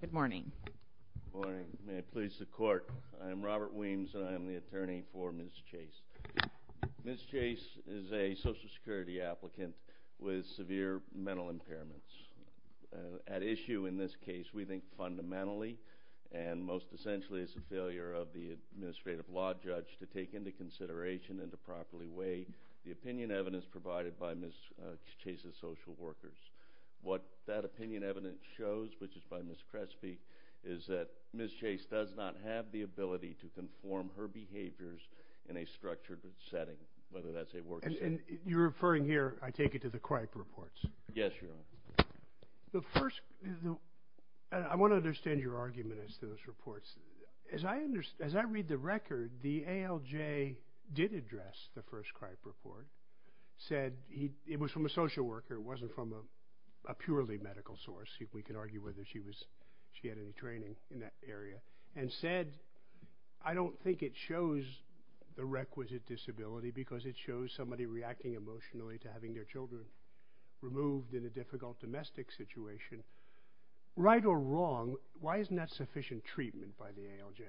Good morning. May it please the court. I am Robert Weems and I am the attorney for Ms. Chase. Ms. Chase is a Social Security applicant with severe mental impairments. At issue in this case, we think fundamentally and most essentially as a failure of the administrative law judge to take into consideration and to properly weigh the opinion evidence provided by Ms. Chase's social workers. What that opinion evidence shows, which is by Ms. Crespi, is that Ms. Chase does not have the ability to conform her behaviors in a structured setting, whether that's a work... And you're referring here, I take it, to the CRIPE reports. Yes, Your Honor. The first, I want to understand your argument as to those reports. As I understand, as I read the record, the ALJ did address the first CRIPE report, said he, it was from a social worker, it wasn't from a purely medical source, if we can argue whether she was, she had any training in that area, and said, I don't think it shows the requisite disability because it shows somebody reacting emotionally to having their children removed in a difficult domestic situation. Right or wrong, why isn't that sufficient treatment by the ALJ?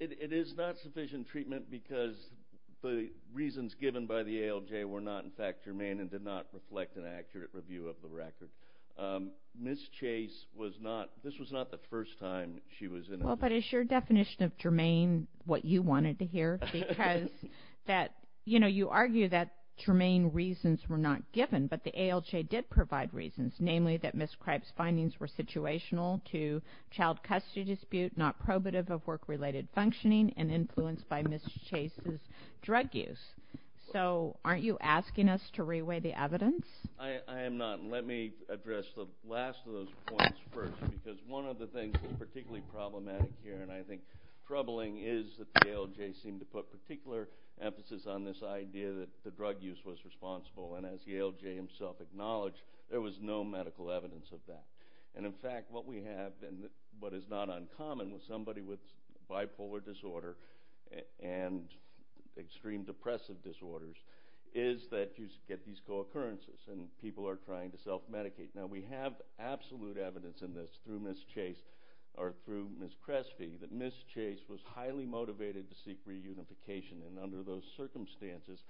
It is not sufficient treatment because the reasons given by the ALJ were not, in fact, germane and did not reflect an accurate review of the record. Ms. Chase was not, this was not the first time she was in... Well, but is your definition of germane what you wanted to hear? Because that, you know, you argue that germane reasons were not given, but the ALJ did provide reasons, namely that Ms. Cripe's findings were situational to child custody dispute, not probative of work-related functioning, and influenced by Ms. Chase's drug use. So, aren't you asking us to reweigh the evidence? I am not. Let me address the last of those points first, because one of the things that's particularly problematic here, and I think troubling, is that the ALJ seemed to put particular emphasis on this idea that the drug use was responsible, and as the ALJ himself acknowledged, there was no medical evidence of that. And, in fact, what we have, and what is not uncommon with somebody with bipolar disorder and extreme depressive disorders, is that you get these co-occurrences, and people are trying to self medicate. Now, we have absolute evidence in this through Ms. Chase, or through Ms. Crespi, that Ms. Chase was highly motivated to seek reunification, and under those circumstances,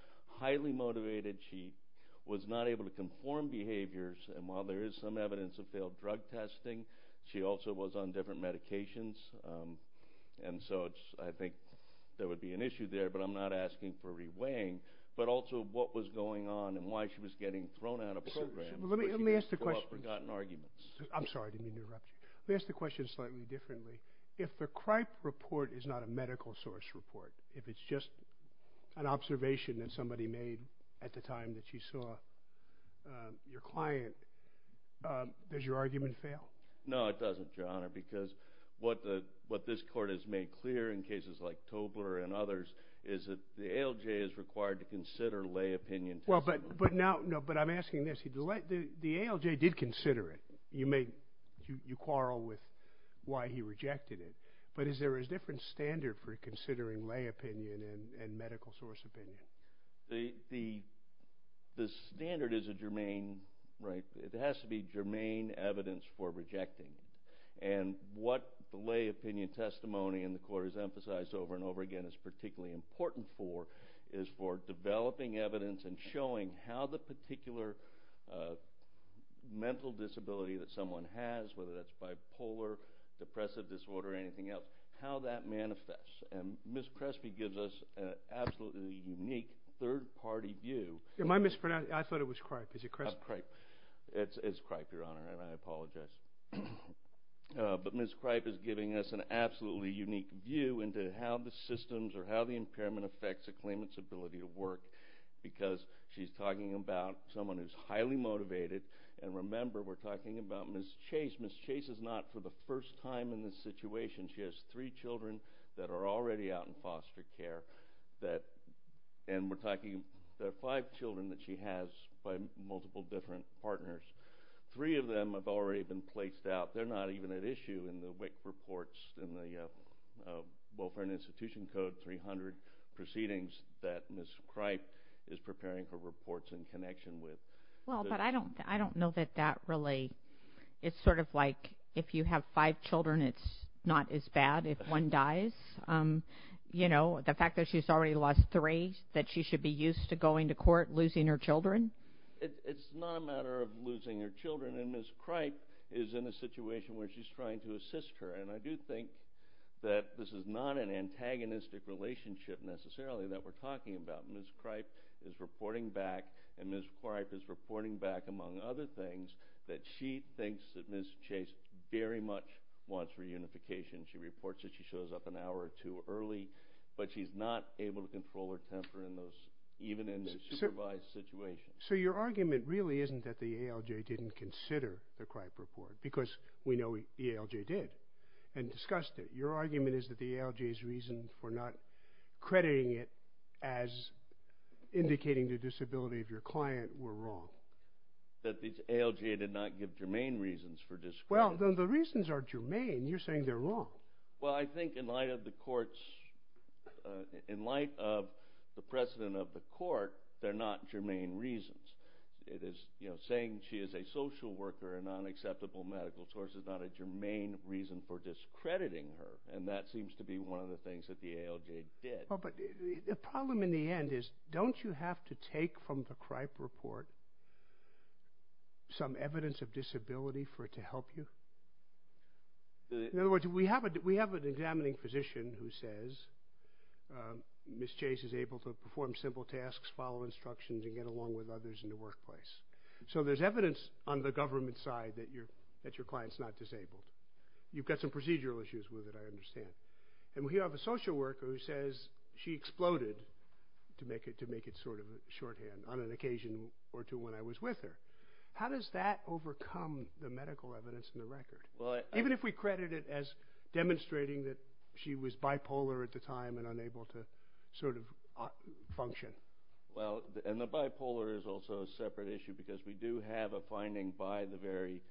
highly motivated. She was not able to conform behaviors, and while there is some evidence of failed drug testing, she also was on different medications. And so, I think there would be an issue there, but I'm not asking for reweighing. But also, what was going on, and why she was getting thrown out of programs. I'm sorry, I didn't mean to interrupt you. Let me ask the question slightly differently. If the Cripe report is not a medical source report, if it's just an observation that somebody made at the time that you saw your client, does your argument fail? No, it doesn't, Your Honor, because what this Court has made clear in cases like Tobler and others, is that the ALJ is required to consider lay opinion. Well, but now, no, but I'm asking this. The ALJ did consider it. You may, you quarrel with why he rejected it, but is there a different standard for considering lay opinion? The standard is a germane, right, it has to be germane evidence for rejecting, and what lay opinion testimony in the Court has emphasized over and over again is particularly important for, is for developing evidence and showing how the particular mental disability that someone has, whether that's bipolar, depressive disorder, or anything else, how that manifests. And Ms. Cripe is giving us an absolutely unique third-party view. Am I mispronouncing? I thought it was Cripe. Is it Cripe? It's Cripe, Your Honor, and I apologize. But Ms. Cripe is giving us an absolutely unique view into how the systems or how the impairment affects a claimant's ability to work, because she's talking about someone who's highly motivated, and remember, we're talking about Ms. Chase. Ms. Chase is not, for the first time in this situation, she has three children that are already out in the community, and we're talking, there are five children that she has by multiple different partners. Three of them have already been placed out. They're not even at issue in the WIC reports, in the Welfare and Institution Code 300 proceedings that Ms. Cripe is preparing for reports in connection with. Well, but I don't, I don't know that that really, it's sort of like, if you have five children, it's not as bad if one dies. You know, the fact that she's already lost three, that she should be used to going to court, losing her children? It's not a matter of losing her children, and Ms. Cripe is in a situation where she's trying to assist her, and I do think that this is not an antagonistic relationship, necessarily, that we're talking about. Ms. Cripe is reporting back, and Ms. Cripe is reporting back, among other things, that she thinks that Ms. Chase very much wants reunification. She reports that she shows up an hour or two early, but she's not able to control her temper in those, even in the supervised situation. So your argument really isn't that the ALJ didn't consider the Cripe report, because we know the ALJ did, and discussed it. Your argument is that the ALJ's reason for not crediting it as indicating the discredit. Well, then the reasons are germane. You're saying they're wrong. Well, I think in light of the court's, in light of the precedent of the court, they're not germane reasons. It is, you know, saying she is a social worker, a non-acceptable medical source, is not a germane reason for discrediting her, and that seems to be one of the things that the ALJ did. Well, but the problem in the end is, don't you have to take from the Cripe report some evidence of that? In other words, we have an examining physician who says, Ms. Chase is able to perform simple tasks, follow instructions, and get along with others in the workplace. So there's evidence on the government side that your client's not disabled. You've got some procedural issues with it, I understand. And we have a social worker who says she exploded, to make it sort of the record. Even if we credit it as demonstrating that she was bipolar at the time and unable to sort of function. Well, and the bipolar is also a separate issue, because we do have a finding by the very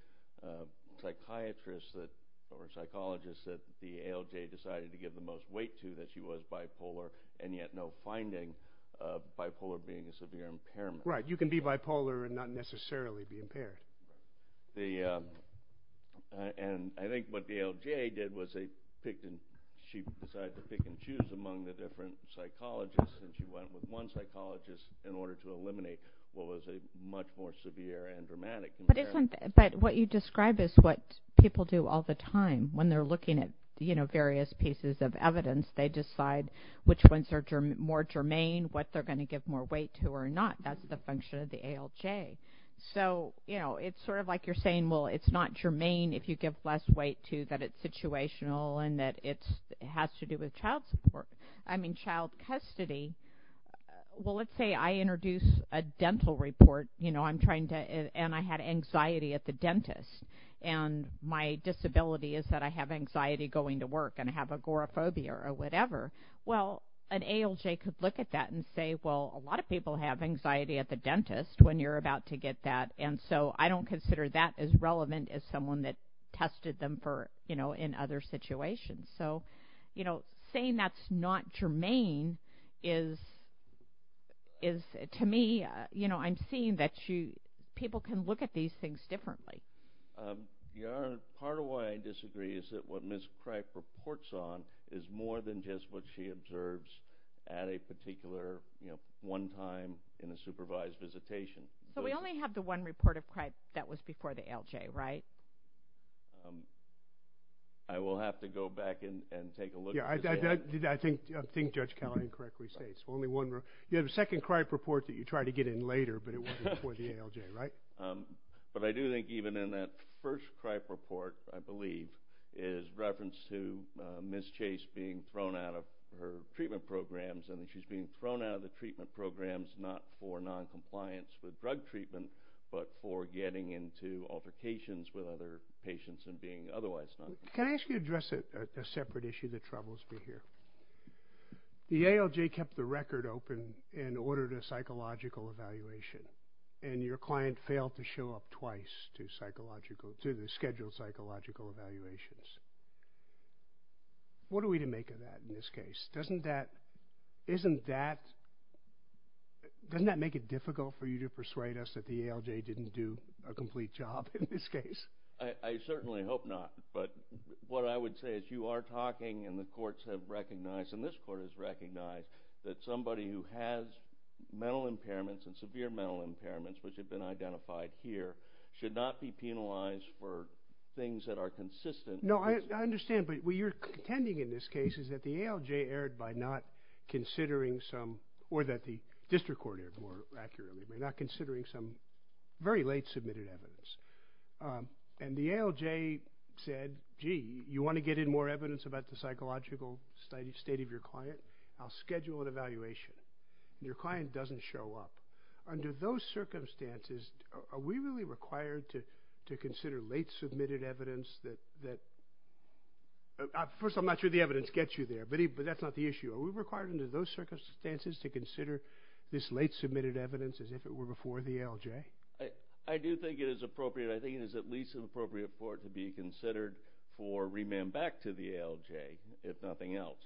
psychiatrists that, or psychologists, that the ALJ decided to give the most weight to that she was bipolar, and yet no finding of bipolar being a severe impairment. Right, you can be bipolar and not necessarily be impaired. The, and I think what the ALJ did was they picked, and she decided to pick and choose among the different psychologists, and she went with one psychologist in order to eliminate what was a much more severe and dramatic impairment. But what you describe is what people do all the time, when they're looking at, you know, various pieces of evidence, they decide which ones are more germane, what they're going to give more weight to, or not. That's the function of the ALJ. So, you know, it's sort of like you're saying, well, it's not germane if you give less weight to that it's situational, and that it has to do with child support. I mean, child custody. Well, let's say I introduce a dental report, you know, I'm trying to, and I had anxiety at the dentist, and my disability is that I have anxiety going to work, and I have agoraphobia, or whatever. Well, an ALJ could look at that and say, well, a lot of people have anxiety at the dentist when you're about to get that, and so I don't consider that as relevant as someone that tested them for, you know, in other situations. So, you know, saying that's not germane is, to me, you know, I'm seeing that you, people can look at these things differently. Yeah, part of why I disagree is that what Ms. Cripe reports on is more than just what she observes at a particular, you know, one time in a supervised visitation. But we only have the one report of Cripe that was before the ALJ, right? I will have to go back and take a look. Yeah, I think Judge Callahan correctly states, only one. You have a second Cripe report that you try to get in later, but it wasn't before the ALJ, right? But I do think even in that first Cripe report, I believe, is reference to Ms. Chase being thrown out of her treatment programs, and she's being thrown out of the treatment programs not for non-compliance with drug treatment, but for getting into altercations with other patients and being otherwise not. Can I ask you to address a separate issue that troubles me here? The ALJ kept the record open and ordered a psychological evaluation, and your client failed to show up twice to the scheduled psychological evaluations. What are we to make of that in this case? Doesn't that make it difficult for you to persuade us that the ALJ didn't do a complete job in this case? I certainly hope not, but what I would say is you are talking, and the courts have recognized, and this court has recognized, that somebody who has mental impairments and severe mental impairments, which have been identified here, should not be penalized for things that are consistent. No, I understand, but what you're intending in this case is that the ALJ erred by not considering some, or that the district court erred more accurately, by not considering some very late submitted evidence. And the ALJ said, gee, you want to get in more evidence about the psychological state of your client? I'll schedule an evaluation. Your client doesn't show up. Under those circumstances, are we really required to consider late submitted evidence? First, I'm not sure the evidence gets you there, but that's not the issue. Are we required under those circumstances to consider this late submitted evidence as if it were before the ALJ? I do think it is appropriate. I think it is at least appropriate for it to be considered for remand back to the ALJ, if nothing else.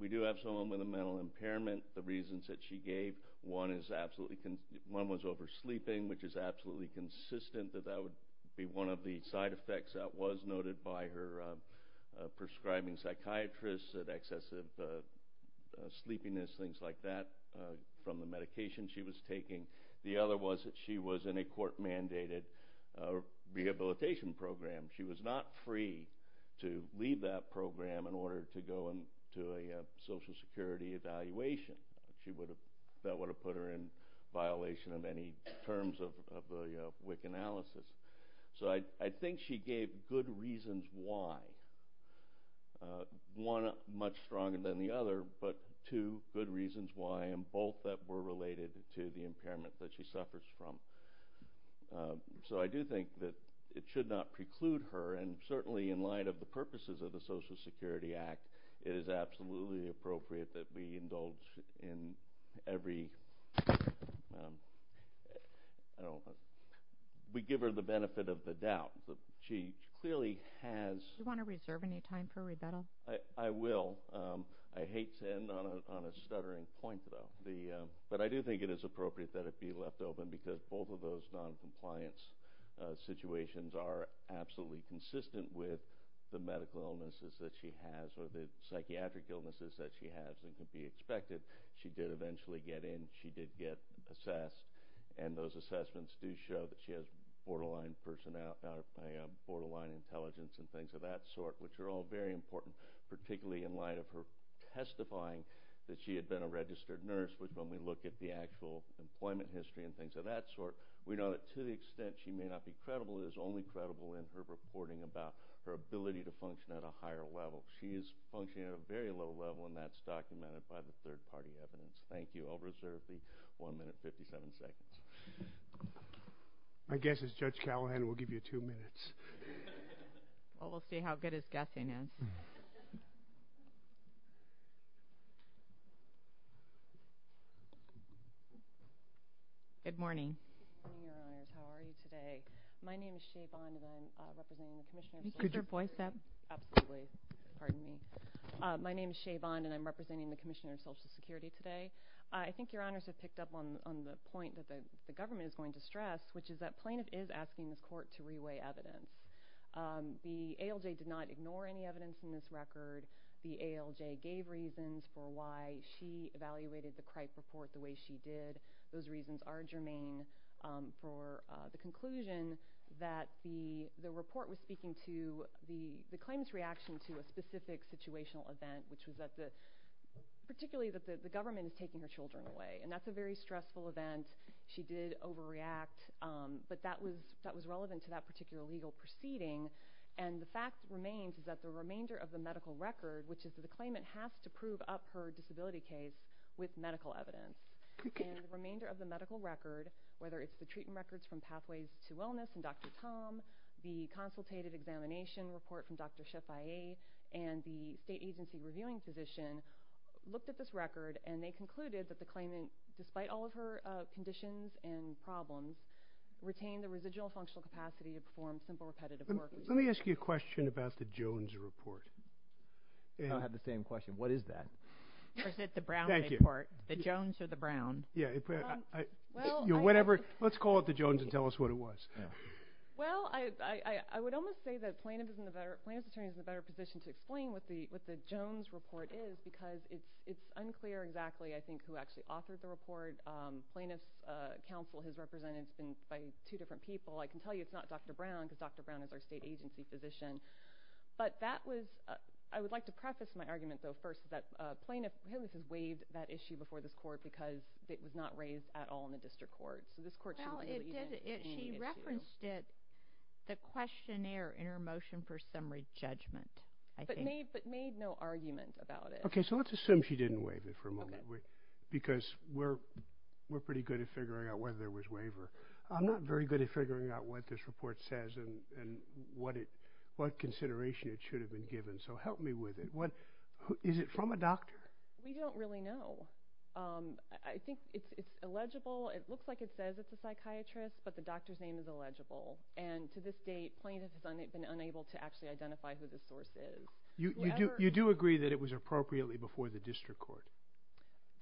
We do have someone with a mental impairment. The reasons that she gave, one was oversleeping, which is absolutely consistent that that would be one of the side effects that was noted by her prescribing psychiatrist, that excessive sleepiness, things like that, from the medication she was taking. The other was that she was in a court-mandated rehabilitation program. She was not free to leave that program in order to go into a Social Security evaluation. That would have put her in violation of any terms of the WIC analysis. I think she gave good reasons why, one much stronger than the other, but two good reasons why, and both that were related to the impairment that she suffers from. I do think that it should not preclude her, and certainly in light of the purposes of the Social Security Act, it is absolutely appropriate that we indulge in every... we give her the benefit of the doubt. She clearly has... Do you want to reserve any time for rebuttal? I will. I hate to end on a stuttering point, though, but I do think it is appropriate that it be left open because both of those non-compliance situations are absolutely consistent with the expected. She did eventually get in. She did get assessed, and those assessments do show that she has borderline intelligence and things of that sort, which are all very important, particularly in light of her testifying that she had been a registered nurse, which, when we look at the actual employment history and things of that sort, we know that to the extent she may not be credible, it is only credible in her reporting about her ability to function at a higher level. She is functioning at a very low level, and that's documented by the third-party evidence. Thank you. I'll reserve the one minute, 57 seconds. My guess is Judge Callahan will give you two minutes. Well, we'll see how good his guessing is. Good morning. Good morning, Your Honor. How are you today? My name is Shea Bonnevin, representing the Commissioner of Social Security. Could you voice that? Absolutely. My name is Shea Bonnevin, and I'm representing the Commissioner of Social Security today. I think Your Honors have picked up on the point that the government is going to stress, which is that plaintiff is asking the court to reweigh evidence. The ALJ did not ignore any evidence in this record. The ALJ gave reasons for why she evaluated the CRIPE report the way she did. Those reasons are germane for the conclusion that the report was speaking to the claimant's reaction to a specific situational event, particularly that the government is taking her children away. That's a very stressful event. She did overreact, but that was relevant to that particular legal proceeding. The fact remains is that the remainder of the medical record, which is that the claimant has to prove up her disability case with medical evidence. The remainder of the medical record, whether it's the treatment records from Pathways to Wellness and Dr. Tom, the consultative examination report from Dr. Sheffia, and the state agency reviewing physician looked at this record, and they concluded that the claimant, despite all of her conditions and problems, retained the residual functional capacity to perform simple repetitive work. Let me ask you a question about the Jones report. I had the same question. What is that? Is it the Brown report? The Jones or the Brown? Yeah. Let's call it the Jones and tell us what it was. Well, I would almost say that plaintiff's attorney is in a better position to explain what the Jones report is, because it's unclear exactly, I think, who actually authored the report. Plaintiff's counsel has represented it by two different people. I can tell you it's not Dr. Brown, because Dr. Brown is our state agency physician. I would like to preface my argument, though, is that plaintiff has waived that issue before this court, because it was not raised at all in the district court. So this court shouldn't believe it. She referenced it, the questionnaire in her motion for summary judgment, I think. But made no argument about it. Okay. So let's assume she didn't waive it for a moment, because we're pretty good at figuring out whether there was waiver. I'm not very good at figuring out what this report says and what consideration it should have been given. So help me with it. Is it from a doctor? We don't really know. I think it's illegible. It looks like it says it's a psychiatrist, but the doctor's name is illegible. And to this date, plaintiff has been unable to actually identify who the source is. You do agree that it was appropriately before the district court?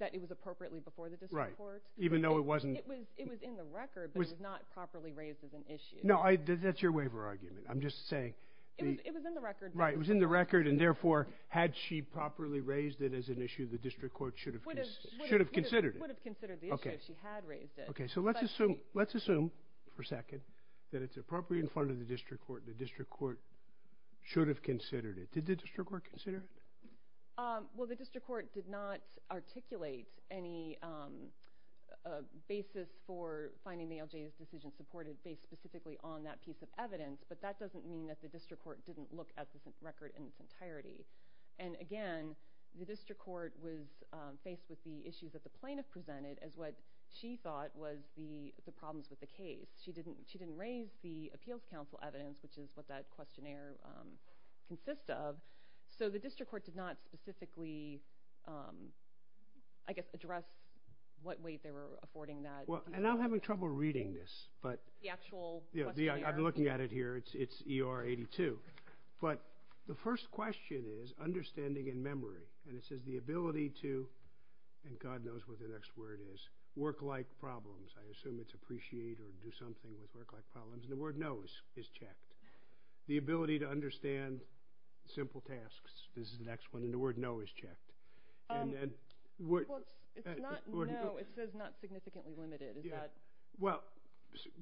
That it was appropriately before the district court? Right. Even though it wasn't... It was in the record, but it was not properly raised as an issue. That's your waiver argument. I'm just saying... It was in the record. Right. It was in the record, and therefore, had she properly raised it as an issue, the district court should have considered it. Would have considered the issue if she had raised it. Okay. So let's assume for a second that it's appropriately in front of the district court, the district court should have considered it. Did the district court consider it? Well, the district court did not articulate any basis for finding the LJS decision supported based specifically on that piece of evidence, but that doesn't mean that the district court didn't look at the record in its entirety. And again, the district court was faced with the issues that the plaintiff presented as what she thought was the problems with the case. She didn't raise the appeals counsel evidence, which is what that questionnaire consists of. So the district court did not specifically, I guess, address what way they were affording that. And I'm having trouble reading this, but... The actual questionnaire. I'm looking at it here. It's ER 82. But the first question is understanding and memory. And it says the ability to, and God knows what the next word is, work-like problems. I assume it's appreciate or do something with work-like problems. And the word no is checked. The ability to understand simple tasks is the next one, and the word no is checked. And then... Well, it's not no. It says not significantly limited. Is that... Well,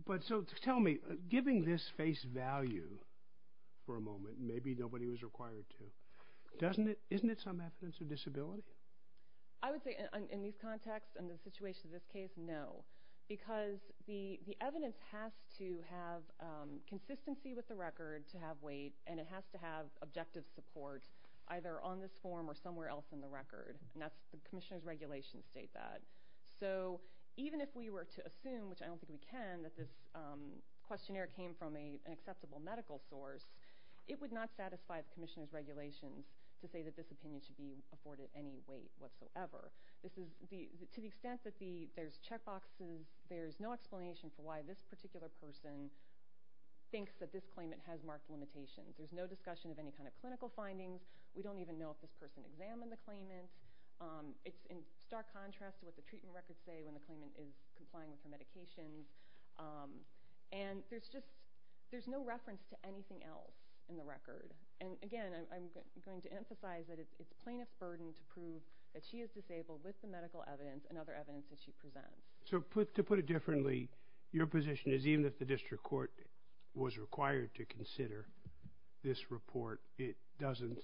but so tell me, giving this face value for a moment, maybe nobody was required to, doesn't it, isn't it some evidence of disability? I would say in these contexts and the situation of this case, no. Because the evidence has to have consistency with the record to have weight, and it has to have objective support, either on this form or somewhere else in the record. And that's, the commissioner's regulations state that. So even if we were to assume, which I don't think we can, that this questionnaire came from an acceptable medical source, it would not satisfy the commissioner's regulations to say that this opinion should be afforded any weight whatsoever. This is, to the extent that there's checkboxes, there's no explanation for why this particular person thinks that this claimant has marked limitations. There's no discussion of any clinical findings. We don't even know if this person examined the claimant. It's in stark contrast to what the treatment records say when the claimant is complying with the medications. And there's just, there's no reference to anything else in the record. And again, I'm going to emphasize that it's plaintiff's burden to prove that she is disabled with the medical evidence and other evidence that she presents. So to put it differently, your position is even if the district court was required to consider this report, it doesn't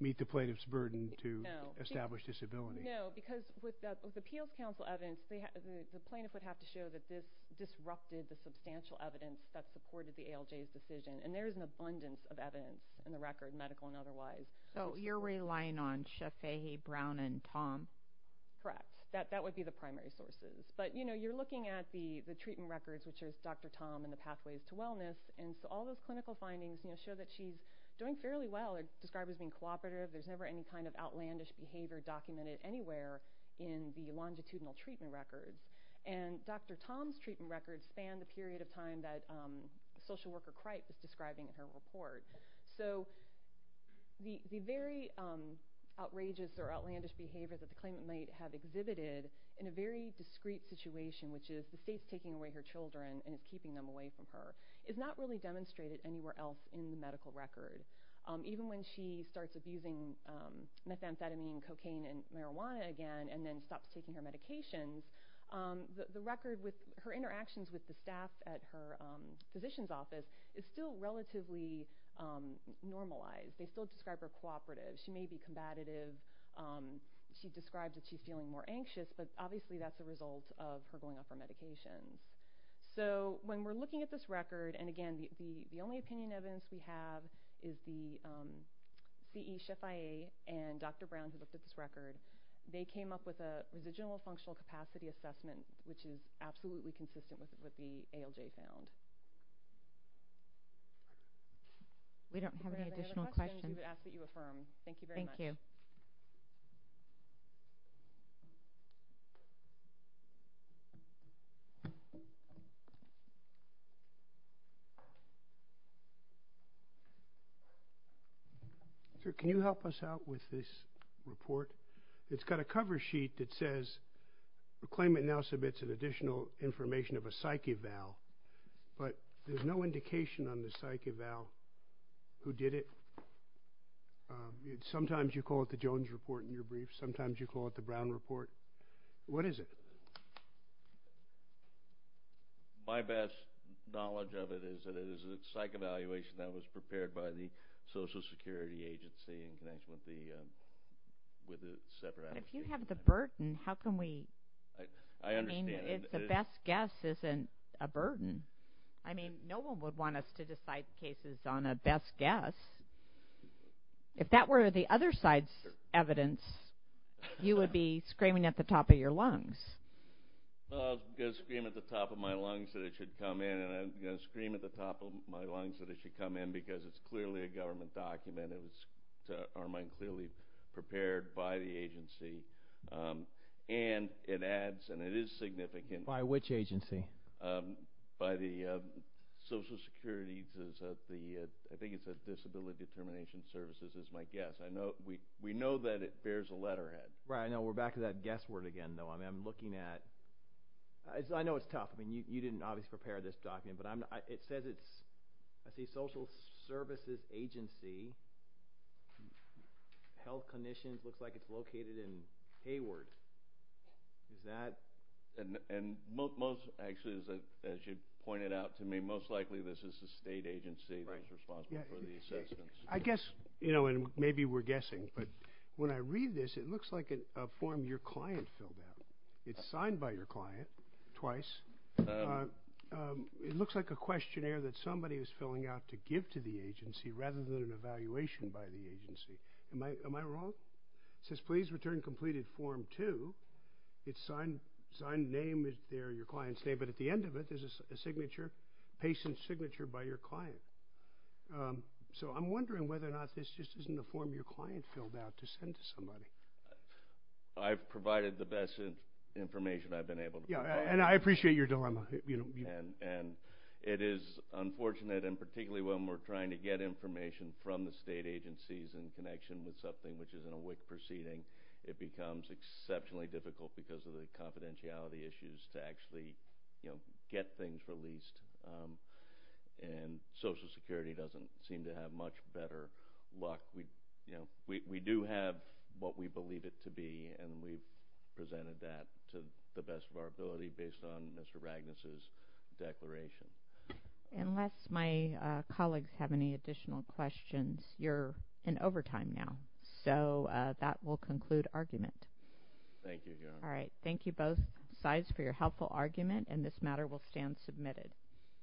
meet the plaintiff's burden to establish disability. No, because with the appeals counsel evidence, the plaintiff would have to show that this disrupted the substantial evidence that supported the ALJ's decision. And there's an abundance of evidence in the record, medical and otherwise. So you're relying on Shefai Brown and Tom? Correct. That would be the primary sources. But you're looking at the treatment records, which is Dr. Tom and the pathways to wellness. And so all those clinical findings show that she's doing fairly well. They're described as being cooperative. There's never any kind of outlandish behavior documented anywhere in the longitudinal treatment records. And Dr. Tom's treatment records span the period of time that social worker Cripe is describing in her report. So the very outrageous or outlandish behaviors that the claimant may have exhibited in a very and keeping them away from her is not really demonstrated anywhere else in the medical record. Even when she starts abusing methamphetamine, cocaine, and marijuana again, and then stops taking her medications, the record with her interactions with the staff at her physician's office is still relatively normalized. They still describe her cooperative. She may be combative. She describes that she's feeling more anxious, but obviously that's a result of her medications. So when we're looking at this record, and again, the only opinion evidence we have is the CE, Chef IA, and Dr. Brown who looked at this record. They came up with a residual functional capacity assessment, which is absolutely consistent with what the ALJ found. We don't have any additional questions. I ask that you affirm. Thank you very much. Sir, can you help us out with this report? It's got a cover sheet that says the claimant now submits an additional information of a psyche valve, but there's no indication on the psyche valve who did it. Sometimes you call it the Jones report in your brief. Sometimes you call it the Brown report. What is it? My best knowledge of it is that it is a psych evaluation that was prepared by the Social Security Agency in connection with the separate agency. You have the burden. The best guess isn't a burden. No one would want us to decide cases on a best guess. If that were the other side's evidence, you would be screaming at the top of your lungs. I'll scream at the top of my lungs that it should come in, and I'm going to scream at the top of my lungs that it should come in because it's clearly a government document. Our mind is clearly prepared by the agency, and it adds, and it is significant. By which agency? By the Social Security, I think it's Disability Determination Services is my guess. We know that it bears a letterhead. Right. We're back to that guess word again, though. I know it's tough. You know, Health Conditions looks like it's located in Hayward. Most likely, as you pointed out to me, this is a state agency that's responsible for the assessments. I guess, and maybe we're guessing, but when I read this, it looks like a form your client filled out. It's signed by your client twice. It looks like a questionnaire that somebody is filling out to give to the agency rather than an evaluation by the agency. Am I wrong? It says, please return completed form two. It's signed name is there, your client's name, but at the end of it, there's a signature, patient's signature by your client. So I'm wondering whether or not this just isn't a form your client filled out to send to somebody. I've provided the best information I've been able to provide. And I appreciate your dilemma. And it is unfortunate, and particularly when we're trying to get information from the state agencies in connection with something which is in a WIC proceeding, it becomes exceptionally difficult because of the confidentiality issues to actually get things released. And Social Security doesn't seem to have much better luck. We do have what believe it to be, and we've presented that to the best of our ability based on Mr. Ragnus's declaration. Unless my colleagues have any additional questions, you're in overtime now. So that will conclude argument. Thank you. All right. Thank you both sides for your helpful argument, and this matter will stand submitted.